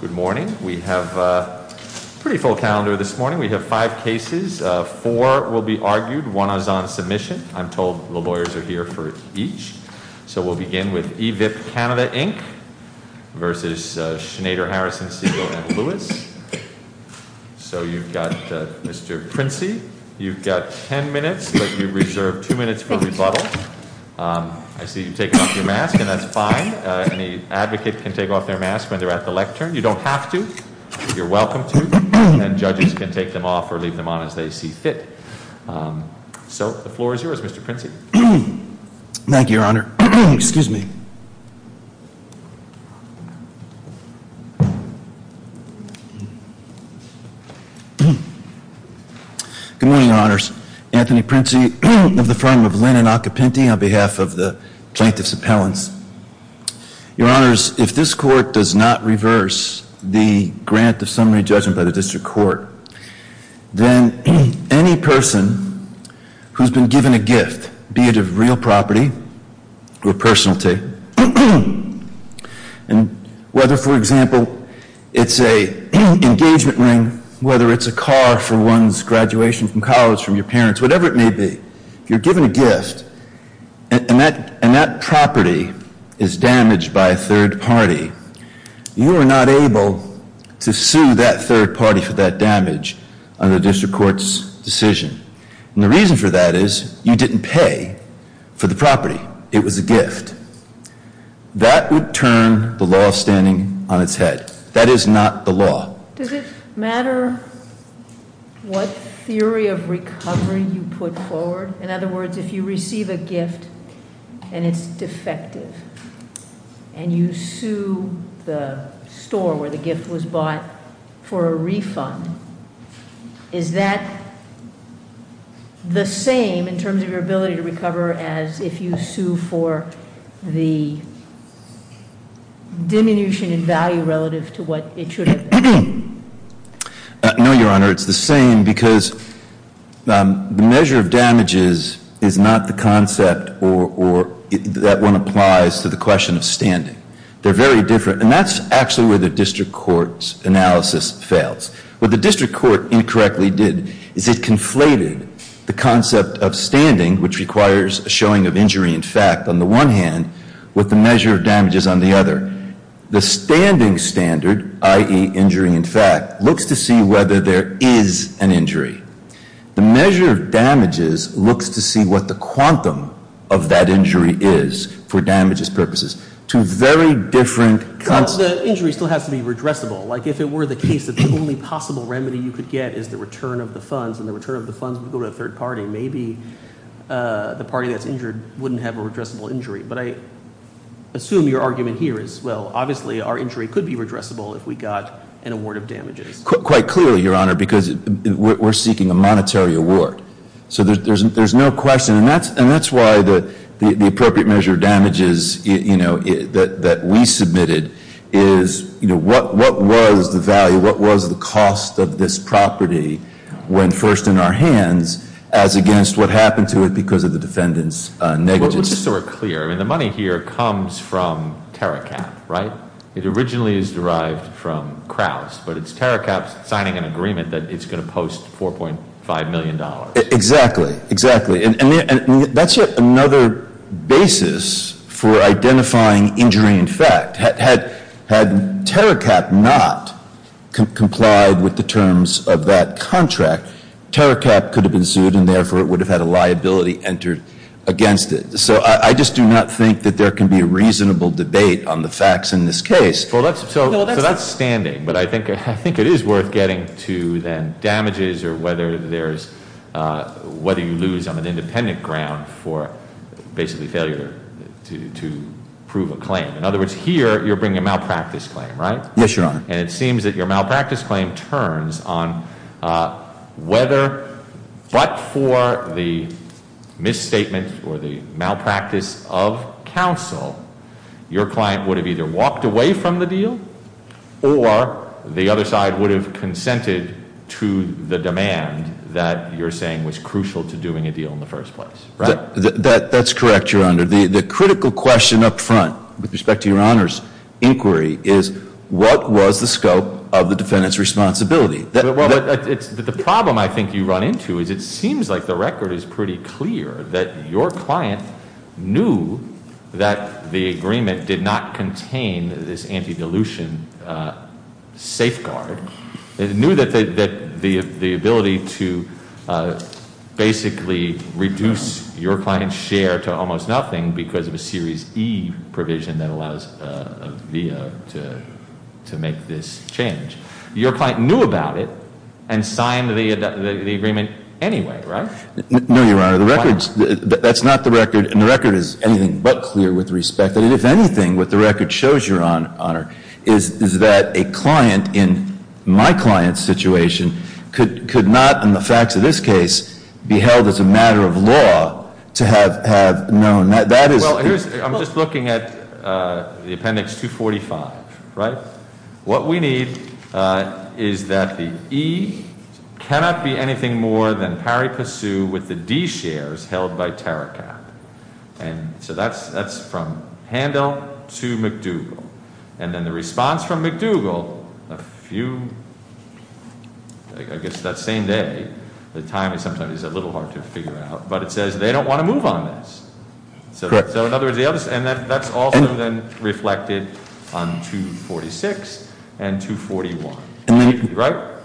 Good morning. We have a pretty full calendar this morning. We have five cases. Four will be argued. One is on submission. I'm told the lawyers are here for each. So we'll begin with EVIP Canada, Inc. v. Schnader Harrison Segal & Lewis. So you've got Mr. Princey. You've got ten minutes, but you reserve two minutes for rebuttal. I see you've taken off your mask, and that's fine. Any advocate can take off their mask when they're at the lectern. You don't have to, but you're welcome to, and judges can take them off or leave them on as they see fit. So the floor is yours, Mr. Princey. Thank you, Your Honor. Excuse me. Good morning, Your Honors. Anthony Princey of the firm of Linn and Occupinti on behalf of the Plaintiffs' Appellants. Your Honors, if this Court does not reverse the grant of summary judgment by the District Court, then any person who's been given a gift, be it of real property or personality, and whether, for example, it's an engagement ring, whether it's a car for one's graduation from college, from your parents, whatever it may be, if you're given a gift and that property is damaged by a third party, you are not able to sue that third party for that damage under the District Court's decision. And the reason for that is you didn't pay for the property. It was a gift. That would turn the law standing on its head. That is not the law. Does it matter what theory of recovery you put forward? In other words, if you receive a gift and it's defective, and you sue the store where the gift was bought for a refund, is that the same in terms of your ability to recover as if you sue for the diminution in value relative to what it should have been? No, Your Honor. It's the same because the measure of damages is not the concept that one applies to the question of standing. They're very different. And that's actually where the District Court's analysis fails. What the District Court incorrectly did is it conflated the concept of standing, which requires a showing of injury in fact, on the one hand, with the measure of damages on the other. The standing standard, i.e. injury in fact, looks to see whether there is an injury. The measure of damages looks to see what the quantum of that injury is for damages purposes. Two very different concepts. But the injury still has to be redressable. Like if it were the case that the only possible remedy you could get is the return of the funds, and the return of the funds would go to a third party, maybe the party that's injured wouldn't have a redressable injury. But I assume your argument here is, well, obviously our injury could be redressable if we got an award of damages. Quite clearly, Your Honor, because we're seeking a monetary award. So there's no question. And that's why the appropriate measure of damages that we submitted is what was the value, what was the cost of this property when first in our hands as against what happened to it because of the defendant's negligence. Let's just sort of clear. I mean, the money here comes from TerraCAP, right? It originally is derived from Crouse. But it's TerraCAP signing an agreement that it's going to post $4.5 million. Exactly. Exactly. And that's another basis for identifying injury in fact. Had TerraCAP not complied with the terms of that contract, TerraCAP could have been sued and therefore it would have had a liability entered against it. So I just do not think that there can be a reasonable debate on the facts in this case. So that's standing. But I think it is worth getting to then damages or whether you lose on an independent ground for basically failure to prove a claim. In other words, here you're bringing a malpractice claim, right? Yes, Your Honor. And it seems that your malpractice claim turns on whether but for the misstatement or the malpractice of counsel, your client would have either walked away from the deal or the other side would have consented to the demand that you're saying was crucial to doing a deal in the first place, right? The critical question up front with respect to Your Honor's inquiry is what was the scope of the defendant's responsibility? The problem I think you run into is it seems like the record is pretty clear that your client knew that the agreement did not contain this anti-dilution safeguard. It knew that the ability to basically reduce your client's share to almost nothing because of a series E provision that allows a via to make this change. Your client knew about it and signed the agreement anyway, right? No, Your Honor. The record's – that's not the record. And the record is anything but clear with respect. If anything, what the record shows, Your Honor, is that a client in my client's situation could not, in the facts of this case, be held as a matter of law to have known. That is – Well, here's – I'm just looking at the Appendix 245, right? What we need is that the E cannot be anything more than Parry-Passeu with the D shares held by Taricap. And so that's from Handel to McDougall. And then the response from McDougall, a few – I guess that same day, the timing sometimes is a little hard to figure out, but it says they don't want to move on this. Correct. So in other words, the other – and that's also then reflected on 246 and 241, right?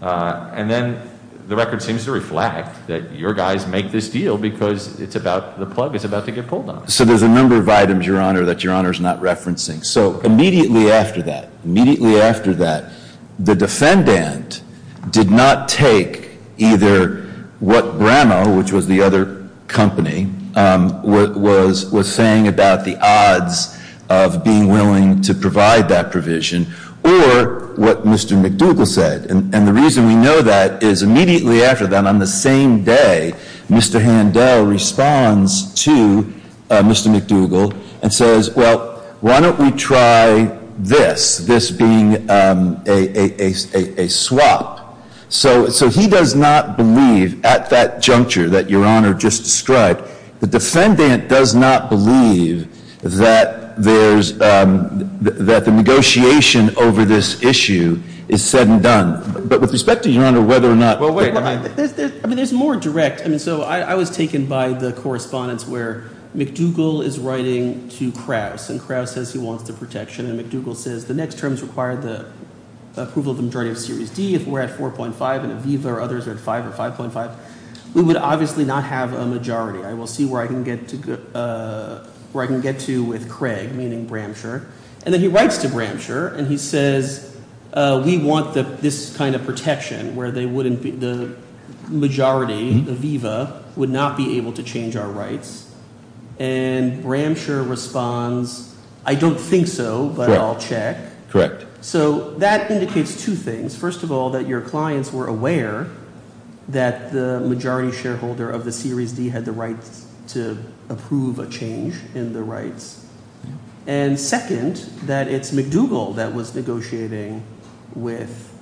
And then the record seems to reflect that your guys make this deal because it's about – the plug is about to get pulled on it. So there's a number of items, Your Honor, that Your Honor's not referencing. So immediately after that, immediately after that, the defendant did not take either what Bramow, which was the other company, was saying about the odds of being willing to provide that provision, or what Mr. McDougall said. And the reason we know that is immediately after that, on the same day, Mr. Handel responds to Mr. McDougall and says, well, why don't we try this, this being a swap? So he does not believe, at that juncture that Your Honor just described, the defendant does not believe that there's – that the negotiation over this issue is said and done. But with respect to, Your Honor, whether or not – I mean there's more direct – I mean so I was taken by the correspondence where McDougall is writing to Krauss, and Krauss says he wants the protection. And McDougall says the next terms require the approval of the majority of Series D. If we're at 4.5 and Aviva or others are at 5 or 5.5, we would obviously not have a majority. I will see where I can get to with Craig, meaning Bramshaw. And then he writes to Bramshaw, and he says we want this kind of protection where they wouldn't be – the majority, Aviva, would not be able to change our rights. And Bramshaw responds, I don't think so, but I'll check. Correct. So that indicates two things. First of all, that your clients were aware that the majority shareholder of the Series D had the right to approve a change in the rights. And second, that it's McDougall that was negotiating with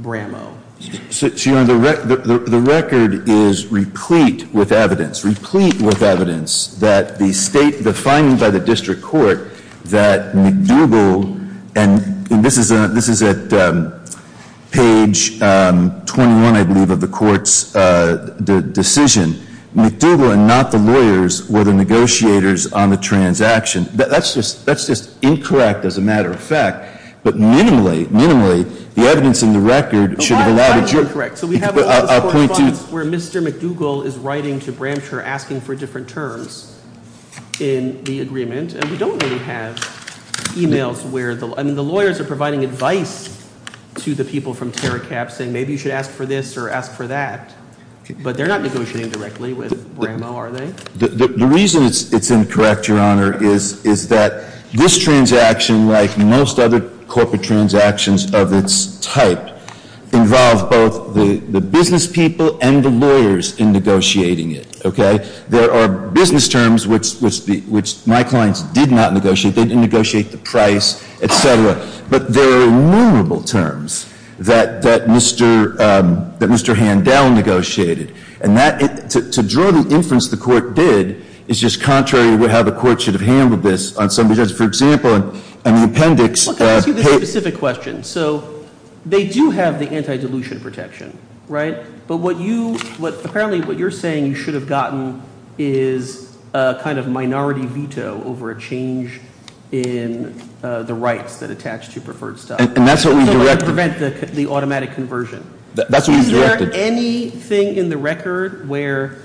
Bramshaw. So, Your Honor, the record is replete with evidence, replete with evidence that the state – the finding by the district court that McDougall – and this is at page 21, I believe, of the court's decision. McDougall and not the lawyers were the negotiators on the transaction. That's just – that's just incorrect as a matter of fact, but minimally, minimally, the evidence in the record should have allowed a – A lot of evidence is incorrect. So we have all this correspondence where Mr. McDougall is writing to Bramshaw asking for different terms in the agreement. And we don't really have emails where – I mean, the lawyers are providing advice to the people from Terracab saying maybe you should ask for this or ask for that. But they're not negotiating directly with Bramshaw, are they? The reason it's incorrect, Your Honor, is that this transaction, like most other corporate transactions of its type, involves both the business people and the lawyers in negotiating it. Okay? There are business terms which my clients did not negotiate. They didn't negotiate the price, et cetera. But there are innumerable terms that Mr. Handel negotiated. And that – to draw the inference the court did is just contrary to how the court should have handled this on some – for example, in the appendix – Let me ask you this specific question. So they do have the anti-dilution protection, right? But what you – apparently what you're saying you should have gotten is a kind of minority veto over a change in the rights that attach to preferred stock. And that's what we directed. So it would prevent the automatic conversion. That's what we directed. Is there anything in the record where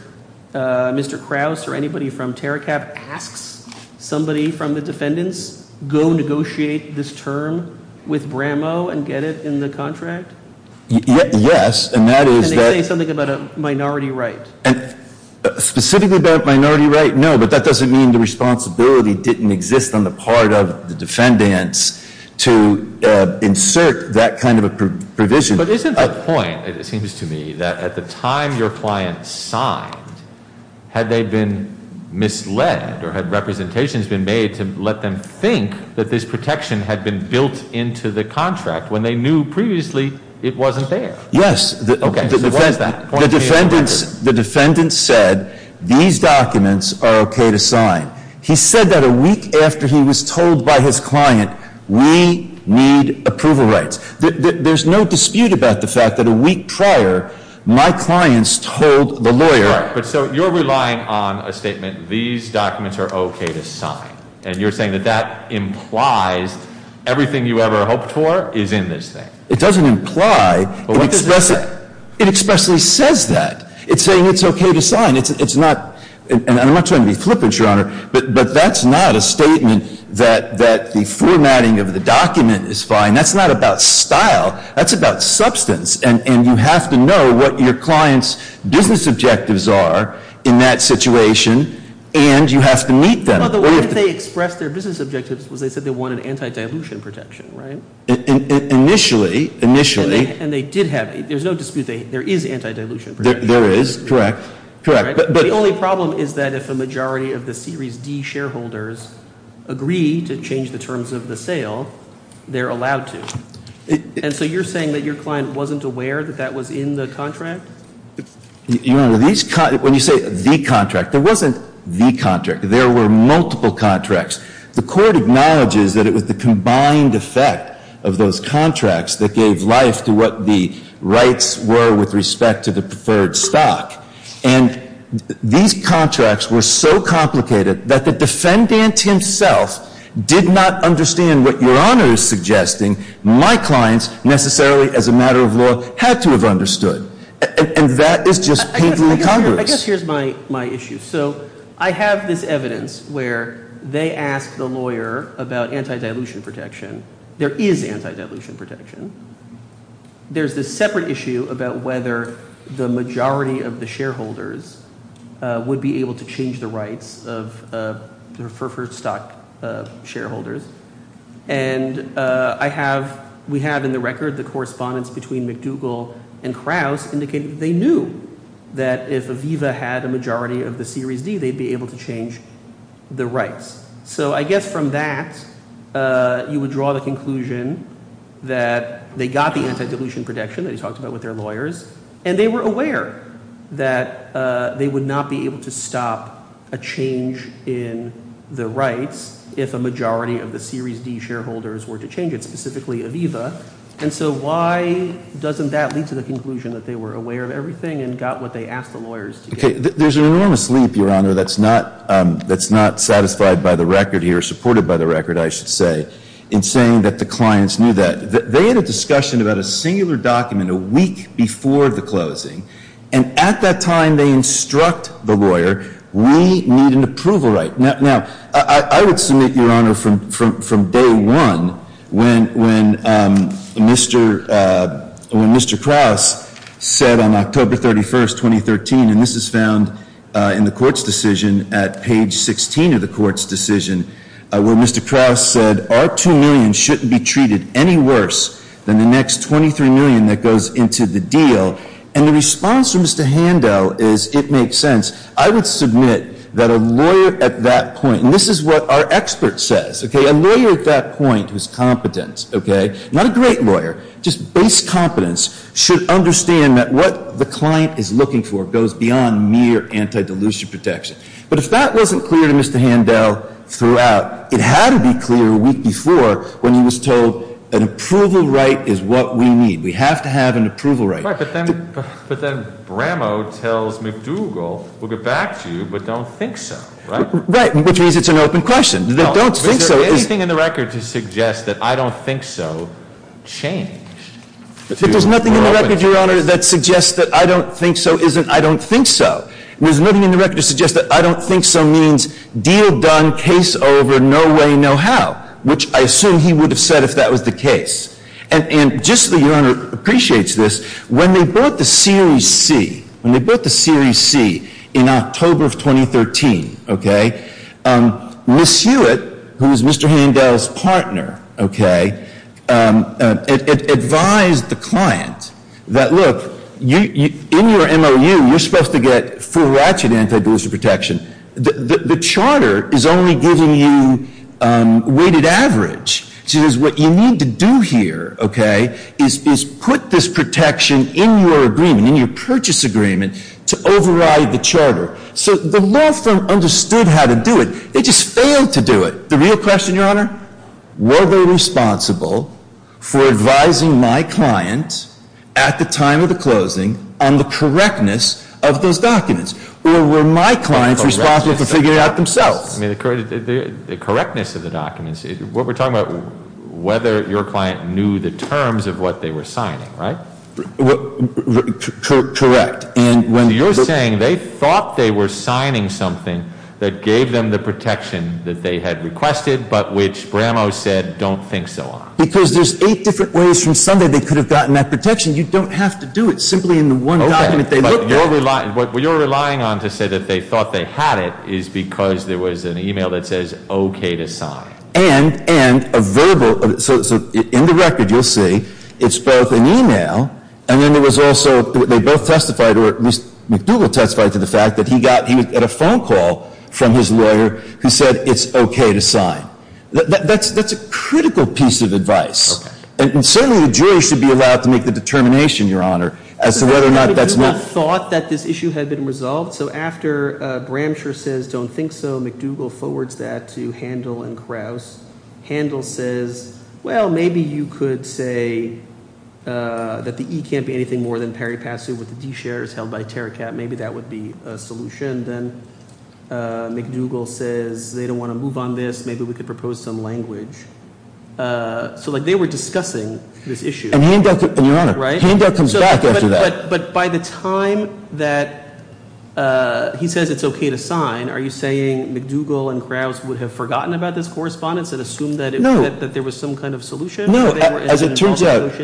Mr. Krause or anybody from Terracab asks somebody from the defendants, go negotiate this term with Bramshaw and get it in the contract? Yes, and that is that – And they say something about a minority right. Specifically about minority right, no, but that doesn't mean the responsibility didn't exist on the part of the defendants to insert that kind of a provision. But isn't the point, it seems to me, that at the time your client signed, had they been misled or had representations been made to let them think that this protection had been built into the contract when they knew previously it wasn't there? Yes. Okay, so what is that? The defendants said these documents are okay to sign. He said that a week after he was told by his client, we need approval rights. There's no dispute about the fact that a week prior, my clients told the lawyer – Right, but so you're relying on a statement, these documents are okay to sign. And you're saying that that implies everything you ever hoped for is in this thing. It doesn't imply. But what does it say? It expressly says that. It's saying it's okay to sign. It's not – and I'm not trying to be flippant, Your Honor, but that's not a statement that the formatting of the document is fine. That's not about style. That's about substance, and you have to know what your client's business objectives are in that situation, and you have to meet them. Well, the way that they expressed their business objectives was they said they wanted anti-dilution protection, right? Initially, initially. And they did have – there's no dispute there is anti-dilution protection. There is, correct, correct. But the only problem is that if a majority of the Series D shareholders agree to change the terms of the sale, they're allowed to. And so you're saying that your client wasn't aware that that was in the contract? Your Honor, these – when you say the contract, there wasn't the contract. There were multiple contracts. The court acknowledges that it was the combined effect of those contracts that gave life to what the rights were with respect to the preferred stock. And these contracts were so complicated that the defendant himself did not understand what Your Honor is suggesting my clients necessarily as a matter of law had to have understood. And that is just painful in Congress. I guess here's my issue. So I have this evidence where they ask the lawyer about anti-dilution protection. There is anti-dilution protection. There's this separate issue about whether the majority of the shareholders would be able to change the rights of the preferred stock shareholders. And I have – we have in the record the correspondence between McDougall and Krauss indicating that they knew that if Aviva had a majority of the Series D, they'd be able to change the rights. So I guess from that, you would draw the conclusion that they got the anti-dilution protection that you talked about with their lawyers. And they were aware that they would not be able to stop a change in the rights if a majority of the Series D shareholders were to change it, specifically Aviva. And so why doesn't that lead to the conclusion that they were aware of everything and got what they asked the lawyers to get? There's an enormous leap, Your Honor, that's not satisfied by the record here, supported by the record, I should say, in saying that the clients knew that. They had a discussion about a singular document a week before the closing. And at that time, they instruct the lawyer, we need an approval right. Now, I would submit, Your Honor, from day one, when Mr. Krauss said on October 31, 2013, and this is found in the court's decision at page 16 of the court's decision, where Mr. Krauss said our two million shouldn't be treated any worse than the next 23 million that goes into the deal. And the response from Mr. Handel is it makes sense. I would submit that a lawyer at that point, and this is what our expert says, okay, a lawyer at that point whose competence, okay, not a great lawyer, just base competence, should understand that what the client is looking for goes beyond mere anti-dilution protection. But if that wasn't clear to Mr. Handel throughout, it had to be clear a week before when he was told an approval right is what we need. We have to have an approval right. But then Bramo tells McDougal, we'll get back to you, but don't think so, right? Right, which means it's an open question. Don't think so. Is there anything in the record to suggest that I don't think so changed? There's nothing in the record, Your Honor, that suggests that I don't think so isn't I don't think so. There's nothing in the record to suggest that I don't think so means deal done, case over, no way, no how, which I assume he would have said if that was the case. And just so Your Honor appreciates this, when they brought the Series C, when they brought the Series C in October of 2013, okay, Ms. Hewitt, who is Mr. Handel's partner, okay, advised the client that, look, in your MOU, you're supposed to get full ratchet anti-dilution protection. The charter is only giving you weighted average. She says what you need to do here, okay, is put this protection in your agreement, in your purchase agreement, to override the charter. So the law firm understood how to do it. They just failed to do it. The real question, Your Honor, were they responsible for advising my client at the time of the closing on the correctness of those documents? Or were my clients responsible for figuring it out themselves? I mean, the correctness of the documents, what we're talking about, whether your client knew the terms of what they were signing, right? Correct. And when you're saying they thought they were signing something that gave them the protection that they had requested but which Bramo said don't think so on. Because there's eight different ways from Sunday they could have gotten that protection. You don't have to do it simply in the one document they looked at. What you're relying on to say that they thought they had it is because there was an e-mail that says okay to sign. And a verbal, so in the record you'll see it's both an e-mail and then there was also, they both testified, or at least McDougal testified to the fact that he got, he was at a phone call from his lawyer who said it's okay to sign. And certainly the jury should be allowed to make the determination, your honor, as to whether or not that's not. So McDougal thought that this issue had been resolved. So after Bramsher says don't think so, McDougal forwards that to Handel and Krause. Handel says, well, maybe you could say that the E can't be anything more than peri passu with the D shares held by Terracat. Maybe that would be a solution. Then McDougal says they don't want to move on this. Maybe we could propose some language. So like they were discussing this issue. And your honor, Handel comes back after that. But by the time that he says it's okay to sign, are you saying McDougal and Krause would have forgotten about this correspondence and assumed that there was some kind of solution? No. As it turns out,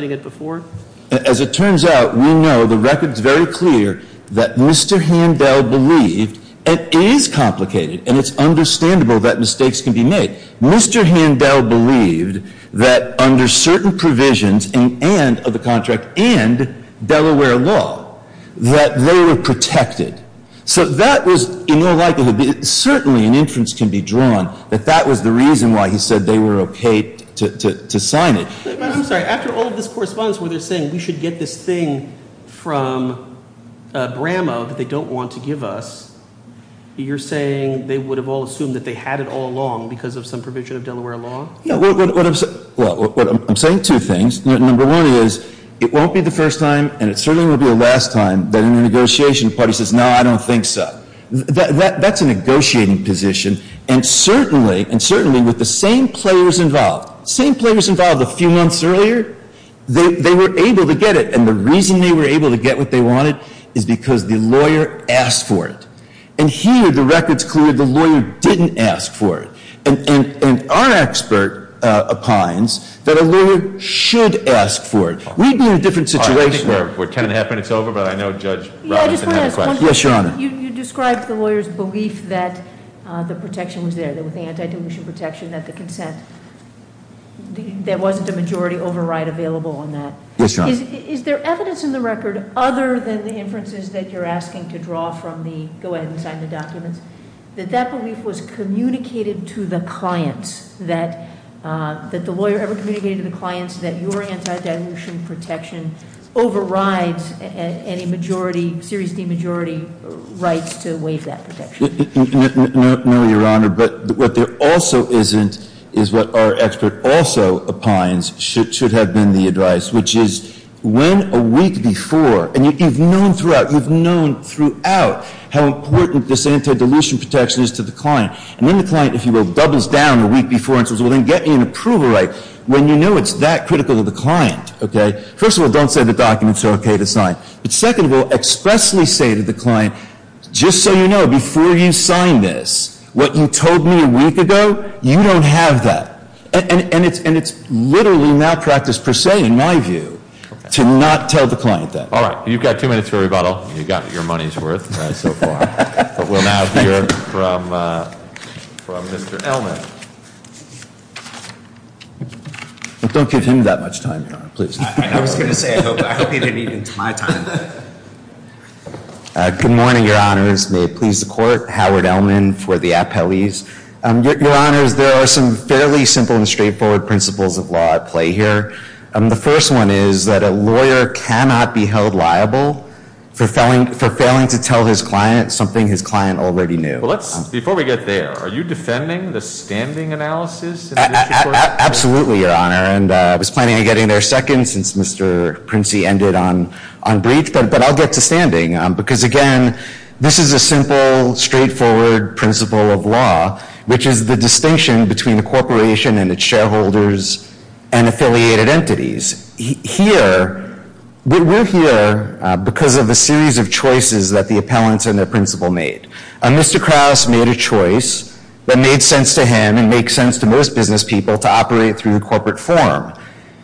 we know the record is very clear that Mr. Handel believed it is complicated and it's understandable that mistakes can be made. Mr. Handel believed that under certain provisions and of the contract and Delaware law, that they were protected. So that was in all likelihood, certainly an inference can be drawn, that that was the reason why he said they were okay to sign it. I'm sorry. After all of this correspondence where they're saying we should get this thing from Bramah that they don't want to give us, you're saying they would have all assumed that they had it all along because of some provision of Delaware law? Well, I'm saying two things. Number one is it won't be the first time and it certainly won't be the last time that a negotiation party says, no, I don't think so. That's a negotiating position. And certainly, with the same players involved, same players involved a few months earlier, they were able to get it. And the reason they were able to get what they wanted is because the lawyer asked for it. And here, the record's clear, the lawyer didn't ask for it. And our expert opines that a lawyer should ask for it. We'd be in a different situation. All right, I think we're 10 and a half minutes over, but I know Judge Robinson has a question. Yeah, I just want to ask one question. Yes, Your Honor. You described the lawyer's belief that the protection was there, that with the anti-dilution protection that the consent, there wasn't a majority override available on that. Yes, Your Honor. Is there evidence in the record other than the inferences that you're asking to draw from the, go ahead and sign the documents, that that belief was communicated to the clients, that the lawyer ever communicated to the clients that your anti-dilution protection overrides any majority, series D majority rights to waive that protection? No, Your Honor. But what there also isn't is what our expert also opines should have been the advice, which is when a week before, and you've known throughout, you've known throughout how important this anti-dilution protection is to the client. And when the client, if you will, doubles down a week before and says, well, then get me an approval right, when you know it's that critical to the client, okay, first of all, don't say the documents are okay to sign. But second of all, expressly say to the client, just so you know, before you sign this, what you told me a week ago, you don't have that. And it's literally malpractice per se, in my view, to not tell the client that. All right. You've got two minutes for rebuttal. You've got your money's worth so far. But we'll now hear from Mr. Elman. Don't give him that much time, Your Honor, please. I was going to say, I hope he didn't eat into my time. Good morning, Your Honors. May it please the Court. Howard Elman for the appellees. Your Honors, there are some fairly simple and straightforward principles of law at play here. The first one is that a lawyer cannot be held liable for failing to tell his client something his client already knew. Before we get there, are you defending the standing analysis? Absolutely, Your Honor. And I was planning on getting there second since Mr. Princey ended on brief, but I'll get to standing. Because, again, this is a simple, straightforward principle of law, which is the distinction between a corporation and its shareholders and affiliated entities. Here, we're here because of a series of choices that the appellants and their principal made. Mr. Krauss made a choice that made sense to him and makes sense to most business people to operate through the corporate form.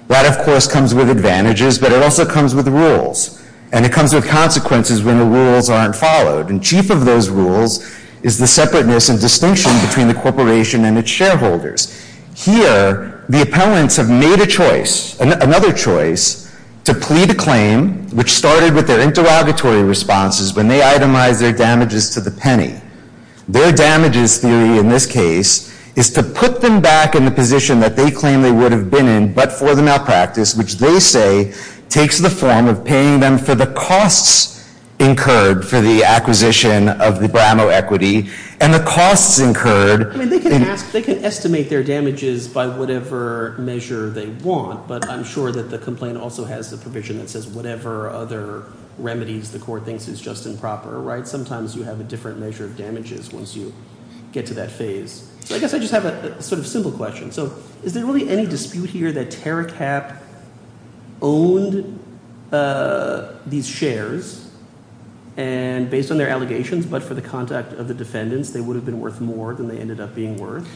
That, of course, comes with advantages, but it also comes with rules. And it comes with consequences when the rules aren't followed. And chief of those rules is the separateness and distinction between the corporation and its shareholders. Here, the appellants have made a choice, another choice, to plead a claim, which started with their interrogatory responses when they itemized their damages to the penny. Their damages theory in this case is to put them back in the position that they claim they would have been in but for the malpractice, which they say takes the form of paying them for the costs incurred for the acquisition of the Bramo equity and the costs incurred. I mean, they can estimate their damages by whatever measure they want, but I'm sure that the complaint also has the provision that says whatever other remedies the court thinks is just and proper, right? Sometimes you have a different measure of damages once you get to that phase. So I guess I just have a sort of simple question. So is there really any dispute here that TerraCap owned these shares and based on their allegations but for the contact of the defendants, they would have been worth more than they ended up being worth?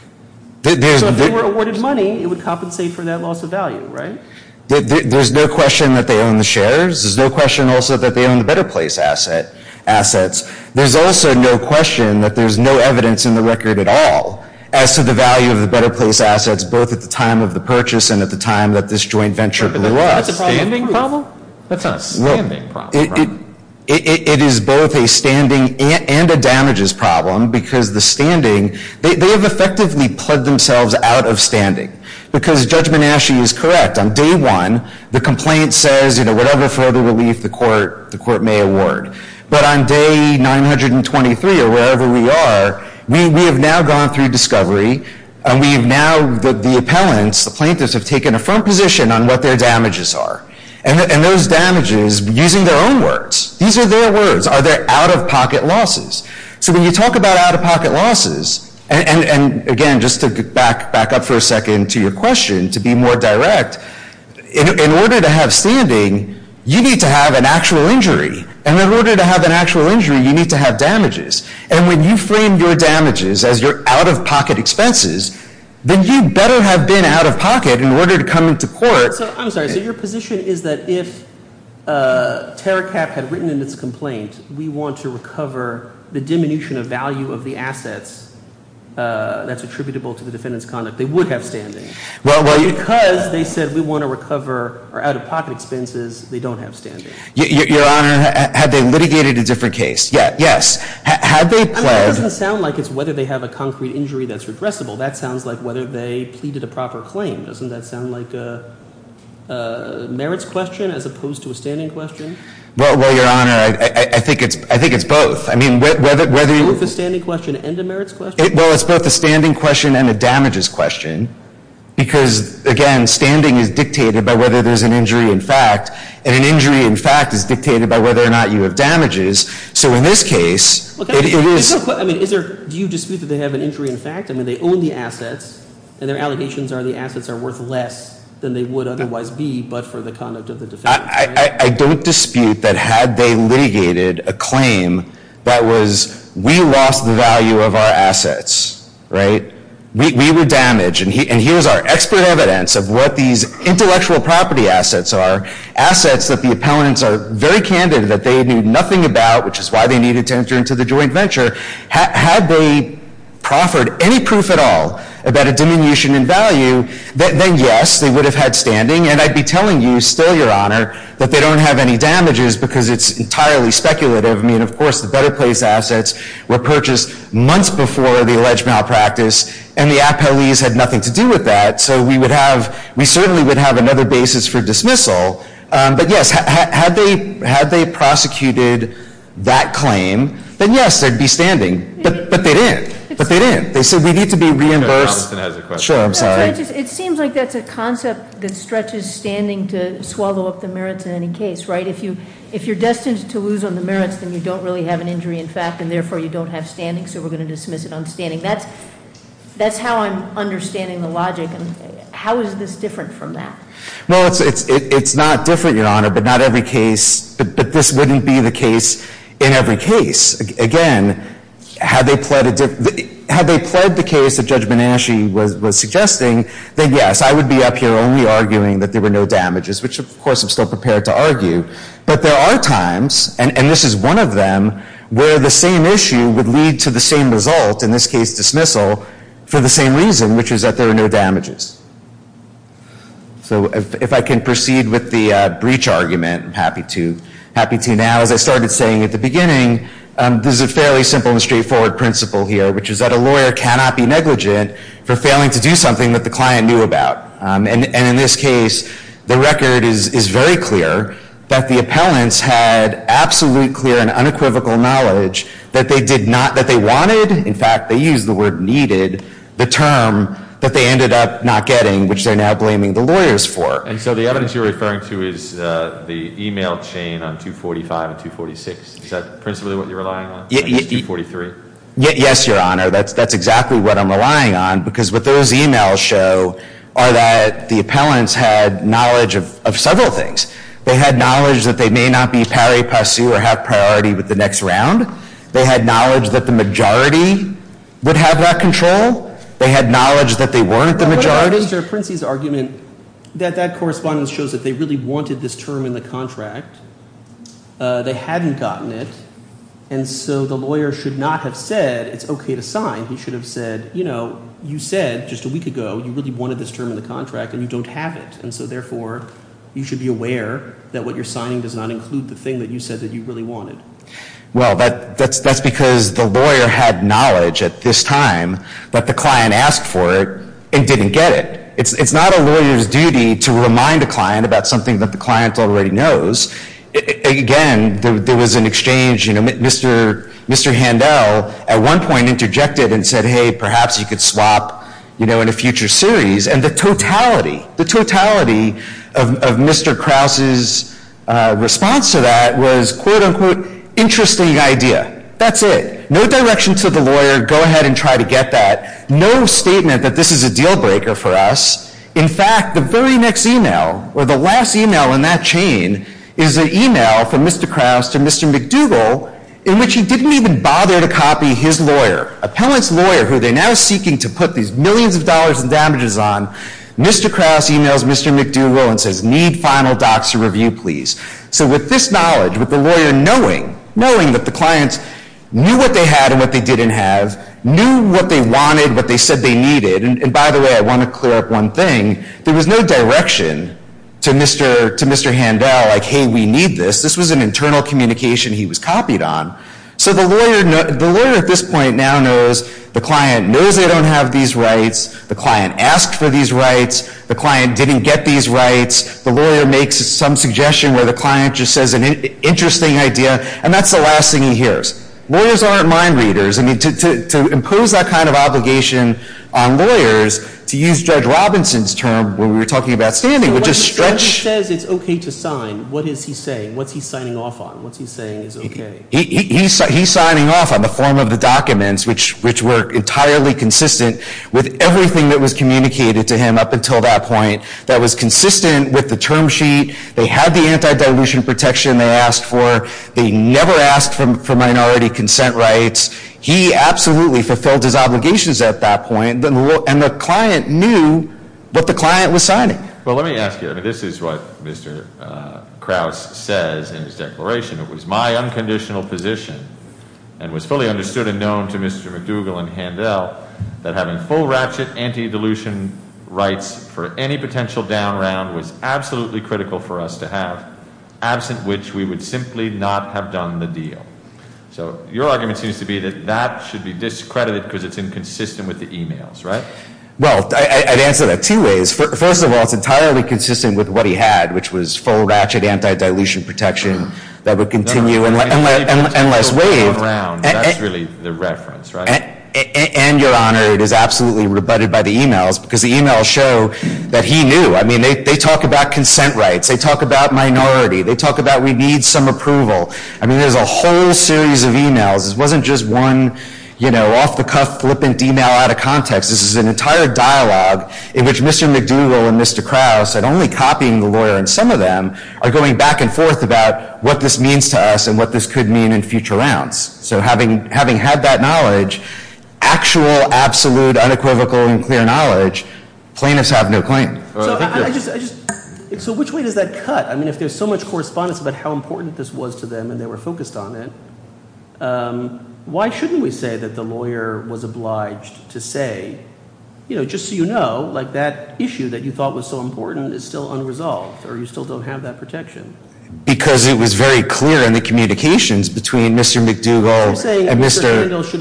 So if they were awarded money, it would compensate for that loss of value, right? There's no question that they own the shares. There's no question also that they own the Better Place assets. There's also no question that there's no evidence in the record at all as to the value of the Better Place assets both at the time of the purchase and at the time that this joint venture blew up. That's a standing problem? That's not a standing problem. It is both a standing and a damages problem because the standing, they have effectively plugged themselves out of standing because Judge Menasche is correct. On day one, the complaint says, you know, whatever further relief the court may award. But on day 923 or wherever we are, we have now gone through discovery and we have now, the appellants, the plaintiffs have taken a firm position on what their damages are. And those damages, using their own words. These are their words. Are there out-of-pocket losses? So when you talk about out-of-pocket losses, and again, just to back up for a second to your question to be more direct, in order to have standing, you need to have an actual injury. And in order to have an actual injury, you need to have damages. And when you frame your damages as your out-of-pocket expenses, then you better have been out-of-pocket in order to come into court. I'm sorry. So your position is that if TerraCAP had written in its complaint, we want to recover the diminution of value of the assets that's attributable to the defendant's conduct, they would have standing. Because they said we want to recover our out-of-pocket expenses, they don't have standing. Your Honor, had they litigated a different case? Yes. I mean, it doesn't sound like it's whether they have a concrete injury that's redressable. That sounds like whether they pleaded a proper claim. Doesn't that sound like a merits question as opposed to a standing question? Well, Your Honor, I think it's both. I mean, whether you— Both a standing question and a merits question? Well, it's both a standing question and a damages question because, again, standing is dictated by whether there's an injury in fact, and an injury in fact is dictated by whether or not you have damages. So in this case, it is— I mean, do you dispute that they have an injury in fact? I mean, they own the assets, and their allegations are the assets are worth less than they would otherwise be but for the conduct of the defendant. I don't dispute that had they litigated a claim that was we lost the value of our assets, right? We were damaged, and here's our expert evidence of what these intellectual property assets are, assets that the appellants are very candid that they knew nothing about, which is why they needed to enter into the joint venture. Had they proffered any proof at all about a diminution in value, then yes, they would have had standing, and I'd be telling you still, Your Honor, that they don't have any damages because it's entirely speculative. I mean, of course, the Better Place assets were purchased months before the alleged malpractice, and the appellees had nothing to do with that, so we would have—we certainly would have another basis for dismissal. But yes, had they prosecuted that claim, then yes, there'd be standing. But they didn't. But they didn't. They said we need to be reimbursed. Sure, I'm sorry. It seems like that's a concept that stretches standing to swallow up the merits in any case, right? If you're destined to lose on the merits, then you don't really have an injury in fact, and therefore you don't have standing, so we're going to dismiss it on standing. That's how I'm understanding the logic. How is this different from that? Well, it's not different, Your Honor, but not every case—but this wouldn't be the case in every case. Again, had they pled the case that Judge Bonacci was suggesting, then yes, I would be up here only arguing that there were no damages, which of course I'm still prepared to argue. But there are times, and this is one of them, where the same issue would lead to the same result, in this case dismissal, for the same reason, which is that there are no damages. So if I can proceed with the breach argument, I'm happy to now. As I started saying at the beginning, there's a fairly simple and straightforward principle here, which is that a lawyer cannot be negligent for failing to do something that the client knew about. And in this case, the record is very clear that the appellants had absolute, clear, and unequivocal knowledge that they wanted— which they're now blaming the lawyers for. And so the evidence you're referring to is the email chain on 245 and 246. Is that principally what you're relying on, at least 243? Yes, Your Honor. That's exactly what I'm relying on, because what those emails show are that the appellants had knowledge of several things. They had knowledge that they may not be pari passu or have priority with the next round. They had knowledge that the majority would have that control. They had knowledge that they weren't the majority. But wait a minute, Mr. Princey's argument, that that correspondence shows that they really wanted this term in the contract. They hadn't gotten it. And so the lawyer should not have said, it's okay to sign. He should have said, you know, you said just a week ago you really wanted this term in the contract, and you don't have it. And so therefore, you should be aware that what you're signing does not include the thing that you said that you really wanted. Well, that's because the lawyer had knowledge at this time that the client asked for it and didn't get it. It's not a lawyer's duty to remind a client about something that the client already knows. Again, there was an exchange, you know, Mr. Handel at one point interjected and said, hey, perhaps you could swap, you know, in a future series. And the totality, the totality of Mr. Krause's response to that was, quote, unquote, interesting idea. That's it. No direction to the lawyer, go ahead and try to get that. No statement that this is a deal breaker for us. In fact, the very next email or the last email in that chain is an email from Mr. Krause to Mr. McDougall in which he didn't even bother to copy his lawyer. Appellant's lawyer, who they're now seeking to put these millions of dollars in damages on, Mr. Krause emails Mr. McDougall and says, need final docs to review, please. So with this knowledge, with the lawyer knowing, knowing that the clients knew what they had and what they didn't have, knew what they wanted, what they said they needed. And by the way, I want to clear up one thing. There was no direction to Mr. Handel, like, hey, we need this. This was an internal communication he was copied on. So the lawyer at this point now knows the client knows they don't have these rights. The client asked for these rights. The client didn't get these rights. The lawyer makes some suggestion where the client just says an interesting idea, and that's the last thing he hears. Lawyers aren't mind readers. I mean, to impose that kind of obligation on lawyers, to use Judge Robinson's term when we were talking about standing, which is stretch. So when he says it's okay to sign, what is he saying? What's he signing off on? What's he saying is okay? He's signing off on the form of the documents, which were entirely consistent with everything that was communicated to him up until that point, that was consistent with the term sheet. They had the anti-dilution protection they asked for. They never asked for minority consent rights. He absolutely fulfilled his obligations at that point, and the client knew what the client was signing. Well, let me ask you. I mean, this is what Mr. Krause says in his declaration. It was my unconditional position, and was fully understood and known to Mr. McDougall and Handel, that having full ratchet anti-dilution rights for any potential down round was absolutely critical for us to have, absent which we would simply not have done the deal. So your argument seems to be that that should be discredited because it's inconsistent with the emails, right? Well, I'd answer that two ways. First of all, it's entirely consistent with what he had, which was full ratchet anti-dilution protection that would continue unless waived. That's really the reference, right? And, Your Honor, it is absolutely rebutted by the emails because the emails show that he knew. I mean, they talk about consent rights. They talk about minority. They talk about we need some approval. I mean, there's a whole series of emails. This wasn't just one, you know, off-the-cuff flippant email out of context. This is an entire dialogue in which Mr. McDougall and Mr. Krause, and only copying the lawyer in some of them, are going back and forth about what this means to us and what this could mean in future rounds. So having had that knowledge, actual, absolute, unequivocal, and clear knowledge, plaintiffs have no claim. So which way does that cut? I mean, if there's so much correspondence about how important this was to them and they were focused on it, why shouldn't we say that the lawyer was obliged to say, you know, just so you know, like that issue that you thought was so important is still unresolved or you still don't have that protection? Because it was very clear in the communications between Mr. McDougall and Mr. – I'm saying Mr. McDougall should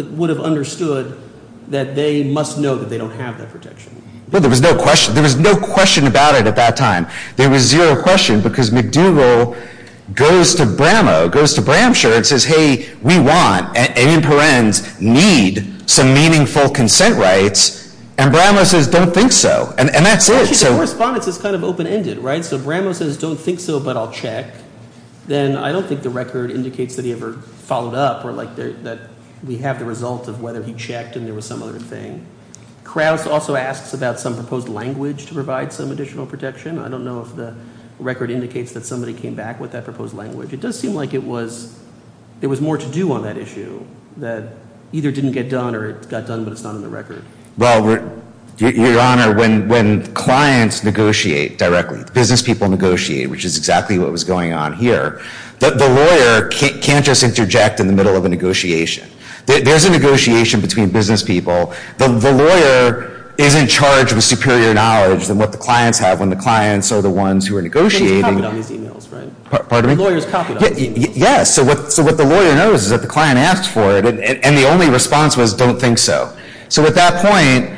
have – would have understood that they must know that they don't have that protection. Well, there was no question. There was no question about it at that time. There was zero question because McDougall goes to Bramow, goes to Bramshire and says, hey, we want and in parens need some meaningful consent rights, and Bramow says, don't think so. And that's it. Actually, the correspondence is kind of open-ended, right? So Bramow says, don't think so, but I'll check. Then I don't think the record indicates that he ever followed up or like that we have the result of whether he checked and there was some other thing. Krause also asks about some proposed language to provide some additional protection. I don't know if the record indicates that somebody came back with that proposed language. It does seem like it was – there was more to do on that issue that either didn't get done or it got done but it's not on the record. Well, Your Honor, when clients negotiate directly, business people negotiate, which is exactly what was going on here, the lawyer can't just interject in the middle of a negotiation. There's a negotiation between business people. The lawyer is in charge of superior knowledge than what the clients have when the clients are the ones who are negotiating. But they copied all these emails, right? Pardon me? The lawyers copied all these emails. Yes. So what the lawyer knows is that the client asked for it and the only response was don't think so. So at that point,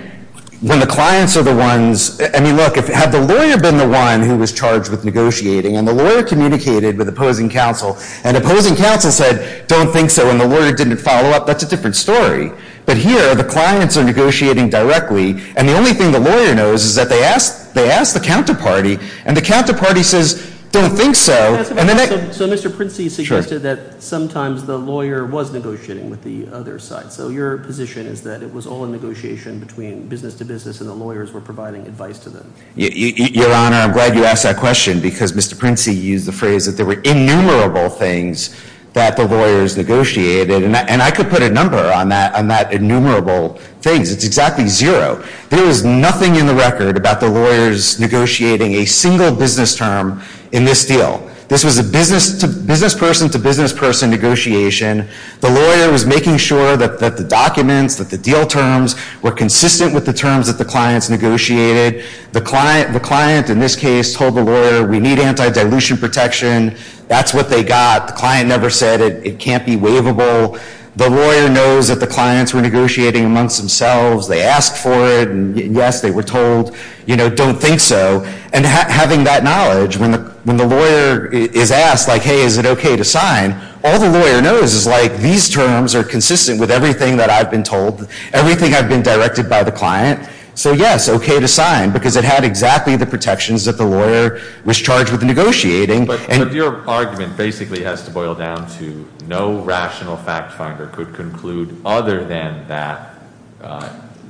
when the clients are the ones – I mean, look, had the lawyer been the one who was charged with negotiating and the lawyer communicated with opposing counsel and opposing counsel said don't think so and the lawyer didn't follow up, that's a different story. But here the clients are negotiating directly and the only thing the lawyer knows is that they asked the counterparty and the counterparty says don't think so. So Mr. Princey suggested that sometimes the lawyer was negotiating with the other side. So your position is that it was all a negotiation between business to business and the lawyers were providing advice to them. Your Honor, I'm glad you asked that question because Mr. Princey used the phrase that there were innumerable things that the lawyers negotiated and I could put a number on that innumerable things. It's exactly zero. There was nothing in the record about the lawyers negotiating a single business term in this deal. This was a business person to business person negotiation. The lawyer was making sure that the documents, that the deal terms were consistent with the terms that the clients negotiated. The client in this case told the lawyer we need anti-dilution protection. That's what they got. The client never said it can't be waivable. The lawyer knows that the clients were negotiating amongst themselves. They asked for it and yes, they were told don't think so. And having that knowledge, when the lawyer is asked like hey, is it okay to sign, all the lawyer knows is like these terms are consistent with everything that I've been told, everything I've been directed by the client. So yes, okay to sign because it had exactly the protections that the lawyer was charged with negotiating. But your argument basically has to boil down to no rational fact finder could conclude other than that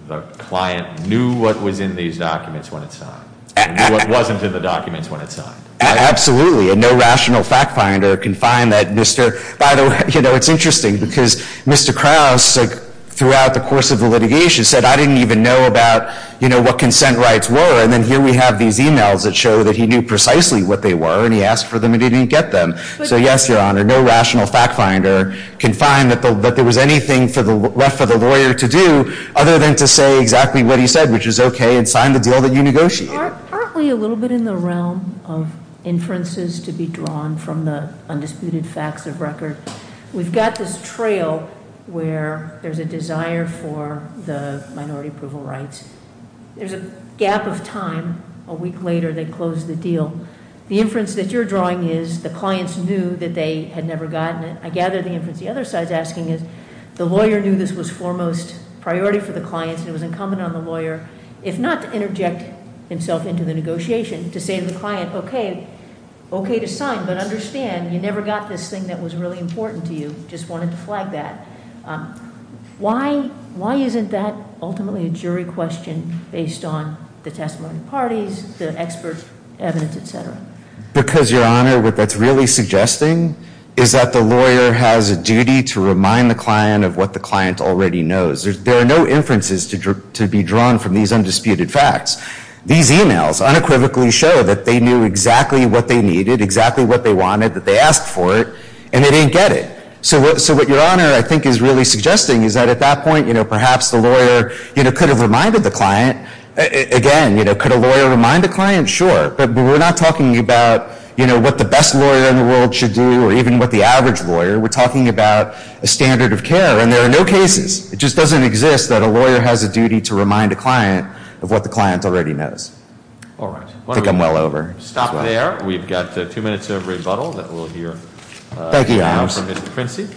the client knew what was in these documents when it signed. And knew what wasn't in the documents when it signed. Absolutely. And no rational fact finder can find that Mr. By the way, it's interesting because Mr. Krause throughout the course of the litigation said I didn't even know about what consent rights were. And then here we have these emails that show that he knew precisely what they were and he asked for them and he didn't get them. So yes, your honor, no rational fact finder can find that there was anything left for the lawyer to do other than to say exactly what he said, which is okay and sign the deal that you negotiated. Aren't we a little bit in the realm of inferences to be drawn from the undisputed facts of record? We've got this trail where there's a desire for the minority approval rights. There's a gap of time, a week later they close the deal. The inference that you're drawing is the clients knew that they had never gotten it. I gather the inference the other side's asking is the lawyer knew this was foremost priority for the clients. It was incumbent on the lawyer, if not to interject himself into the negotiation, to say to the client, okay. Okay to sign, but understand you never got this thing that was really important to you. Just wanted to flag that. Why isn't that ultimately a jury question based on the testimony of the parties, the expert evidence, etc.? Because your honor, what that's really suggesting is that the lawyer has a duty to remind the client of what the client already knows. There are no inferences to be drawn from these undisputed facts. These emails unequivocally show that they knew exactly what they needed, exactly what they wanted, that they asked for it, and they didn't get it. So what your honor I think is really suggesting is that at that point, perhaps the lawyer could have reminded the client. Again, could a lawyer remind a client? Sure, but we're not talking about what the best lawyer in the world should do, or even what the average lawyer. We're talking about a standard of care, and there are no cases. It just doesn't exist that a lawyer has a duty to remind a client of what the client already knows. All right. I think I'm well over. Stop there. We've got two minutes of rebuttal that we'll hear. Thank you, Your Honor. We'll hear from Mr. Quincy.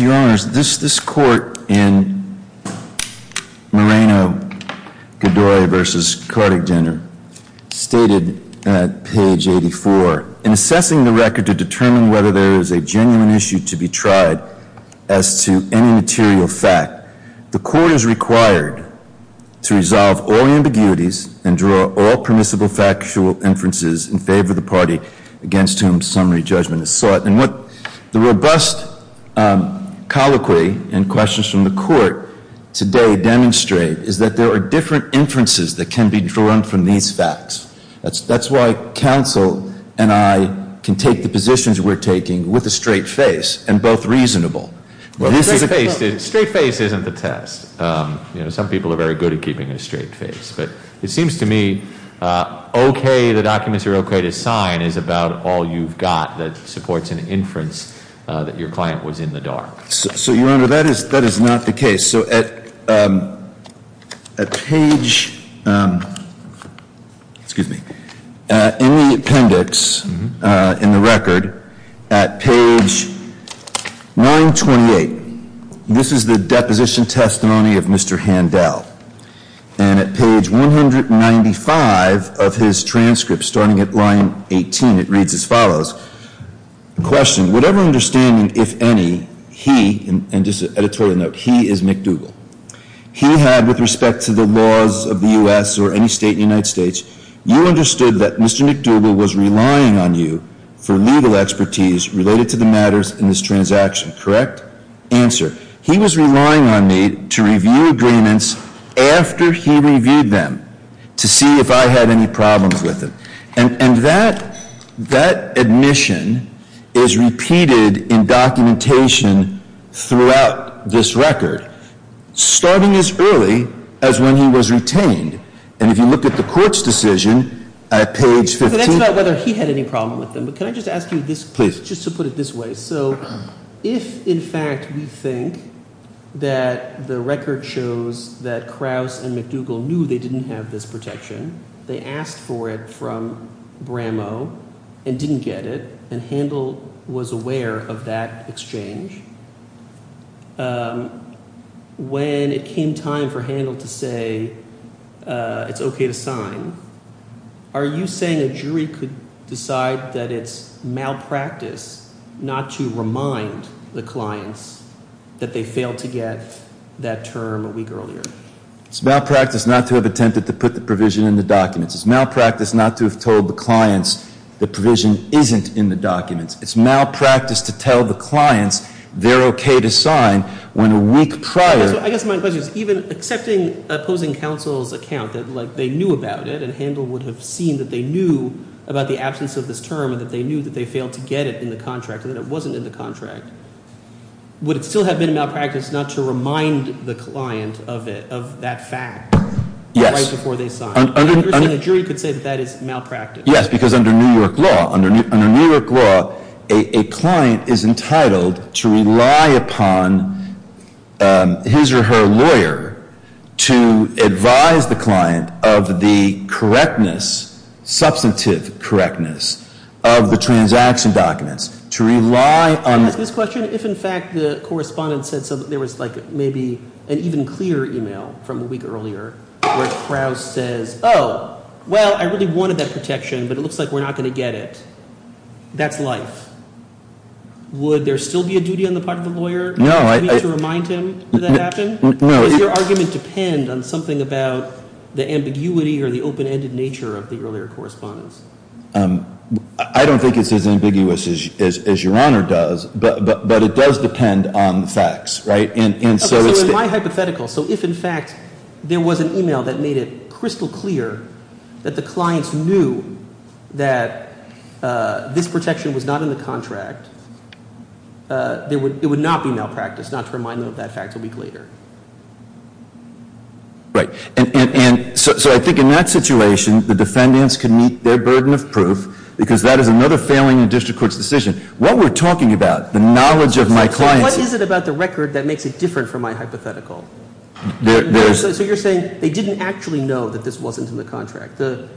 Your Honor, this court in Moreno-Gadoya v. Kortegender stated at page 84, in assessing the record to determine whether there is a genuine issue to be tried as to any material fact, the court is required to resolve all ambiguities and draw all permissible factual inferences in favor of the party against whom summary judgment is sought. And what the robust colloquy and questions from the court today demonstrate is that there are different inferences that can be drawn from these facts. That's why counsel and I can take the positions we're taking with a straight face and both reasonable. Well, straight face isn't the test. You know, some people are very good at keeping a straight face. But it seems to me okay, the documents are okay to sign is about all you've got that supports an inference that your client was in the dark. So, Your Honor, that is not the case. Okay, so at page, excuse me, in the appendix in the record at page 928, this is the deposition testimony of Mr. Handel. And at page 195 of his transcript starting at line 18, it reads as follows. The question, whatever understanding, if any, he, and just an editorial note, he is McDougal. He had with respect to the laws of the U.S. or any state in the United States, you understood that Mr. McDougal was relying on you for legal expertise related to the matters in this transaction, correct? Answer, he was relying on me to review agreements after he reviewed them to see if I had any problems with them. And that admission is repeated in documentation throughout this record, starting as early as when he was retained. And if you look at the court's decision at page 15. That's about whether he had any problem with them. But can I just ask you this? Please. Just to put it this way. So if, in fact, we think that the record shows that Krauss and McDougal knew they didn't have this protection, they asked for it from Brammo and didn't get it. And Handel was aware of that exchange. When it came time for Handel to say it's okay to sign, are you saying a jury could decide that it's malpractice not to remind the clients that they failed to get that term a week earlier? It's malpractice not to have attempted to put the provision in the documents. It's malpractice not to have told the clients the provision isn't in the documents. It's malpractice to tell the clients they're okay to sign when a week prior. I guess my question is even accepting opposing counsel's account that, like, they knew about it and Handel would have seen that they knew about the absence of this term and that they knew that they failed to get it in the contract and that it wasn't in the contract. Would it still have been malpractice not to remind the client of it, of that fact? Yes. Right before they signed. And you're saying a jury could say that that is malpractice. Yes, because under New York law. Under New York law, a client is entitled to rely upon his or her lawyer to advise the client of the correctness, substantive correctness, of the transaction documents. Can I ask this question? If, in fact, the correspondent said something, there was, like, maybe an even clearer email from a week earlier where Krauss says, oh, well, I really wanted that protection, but it looks like we're not going to get it, that's life. Would there still be a duty on the part of the lawyer to remind him that that happened? No. Does your argument depend on something about the ambiguity or the open-ended nature of the earlier correspondence? I don't think it's as ambiguous as your Honor does, but it does depend on the facts, right? Okay, so in my hypothetical, so if, in fact, there was an email that made it crystal clear that the clients knew that this protection was not in the contract, it would not be malpractice not to remind them of that fact a week later. Right. And so I think in that situation, the defendants can meet their burden of proof because that is another failing in a district court's decision. What we're talking about, the knowledge of my clients— So what is it about the record that makes it different from my hypothetical? So you're saying they didn't actually know that this wasn't in the contract. The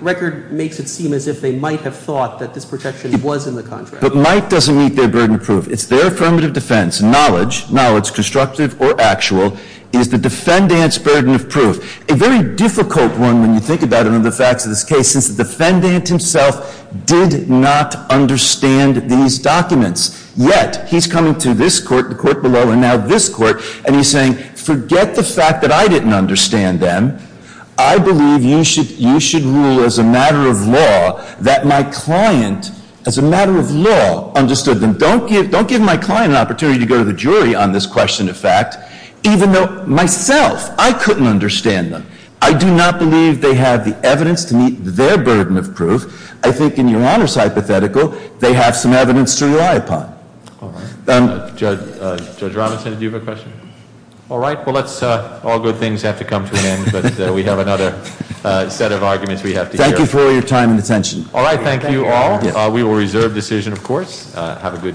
record makes it seem as if they might have thought that this protection was in the contract. But might doesn't meet their burden of proof. It's their affirmative defense. Knowledge—knowledge, constructive or actual—is the defendant's burden of proof. A very difficult one when you think about it under the facts of this case, since the defendant himself did not understand these documents. Yet, he's coming to this court, the court below, and now this court, and he's saying, forget the fact that I didn't understand them. I believe you should rule as a matter of law that my client, as a matter of law, understood them. So don't give my client an opportunity to go to the jury on this question of fact, even though myself, I couldn't understand them. I do not believe they have the evidence to meet their burden of proof. I think in your Honor's hypothetical, they have some evidence to rely upon. All right. Judge Robinson, do you have a question? All right. Well, let's—all good things have to come to an end, but we have another set of arguments we have to hear. Thank you for your time and attention. All right. Thank you all. We will reserve decision, of course. Have a good day.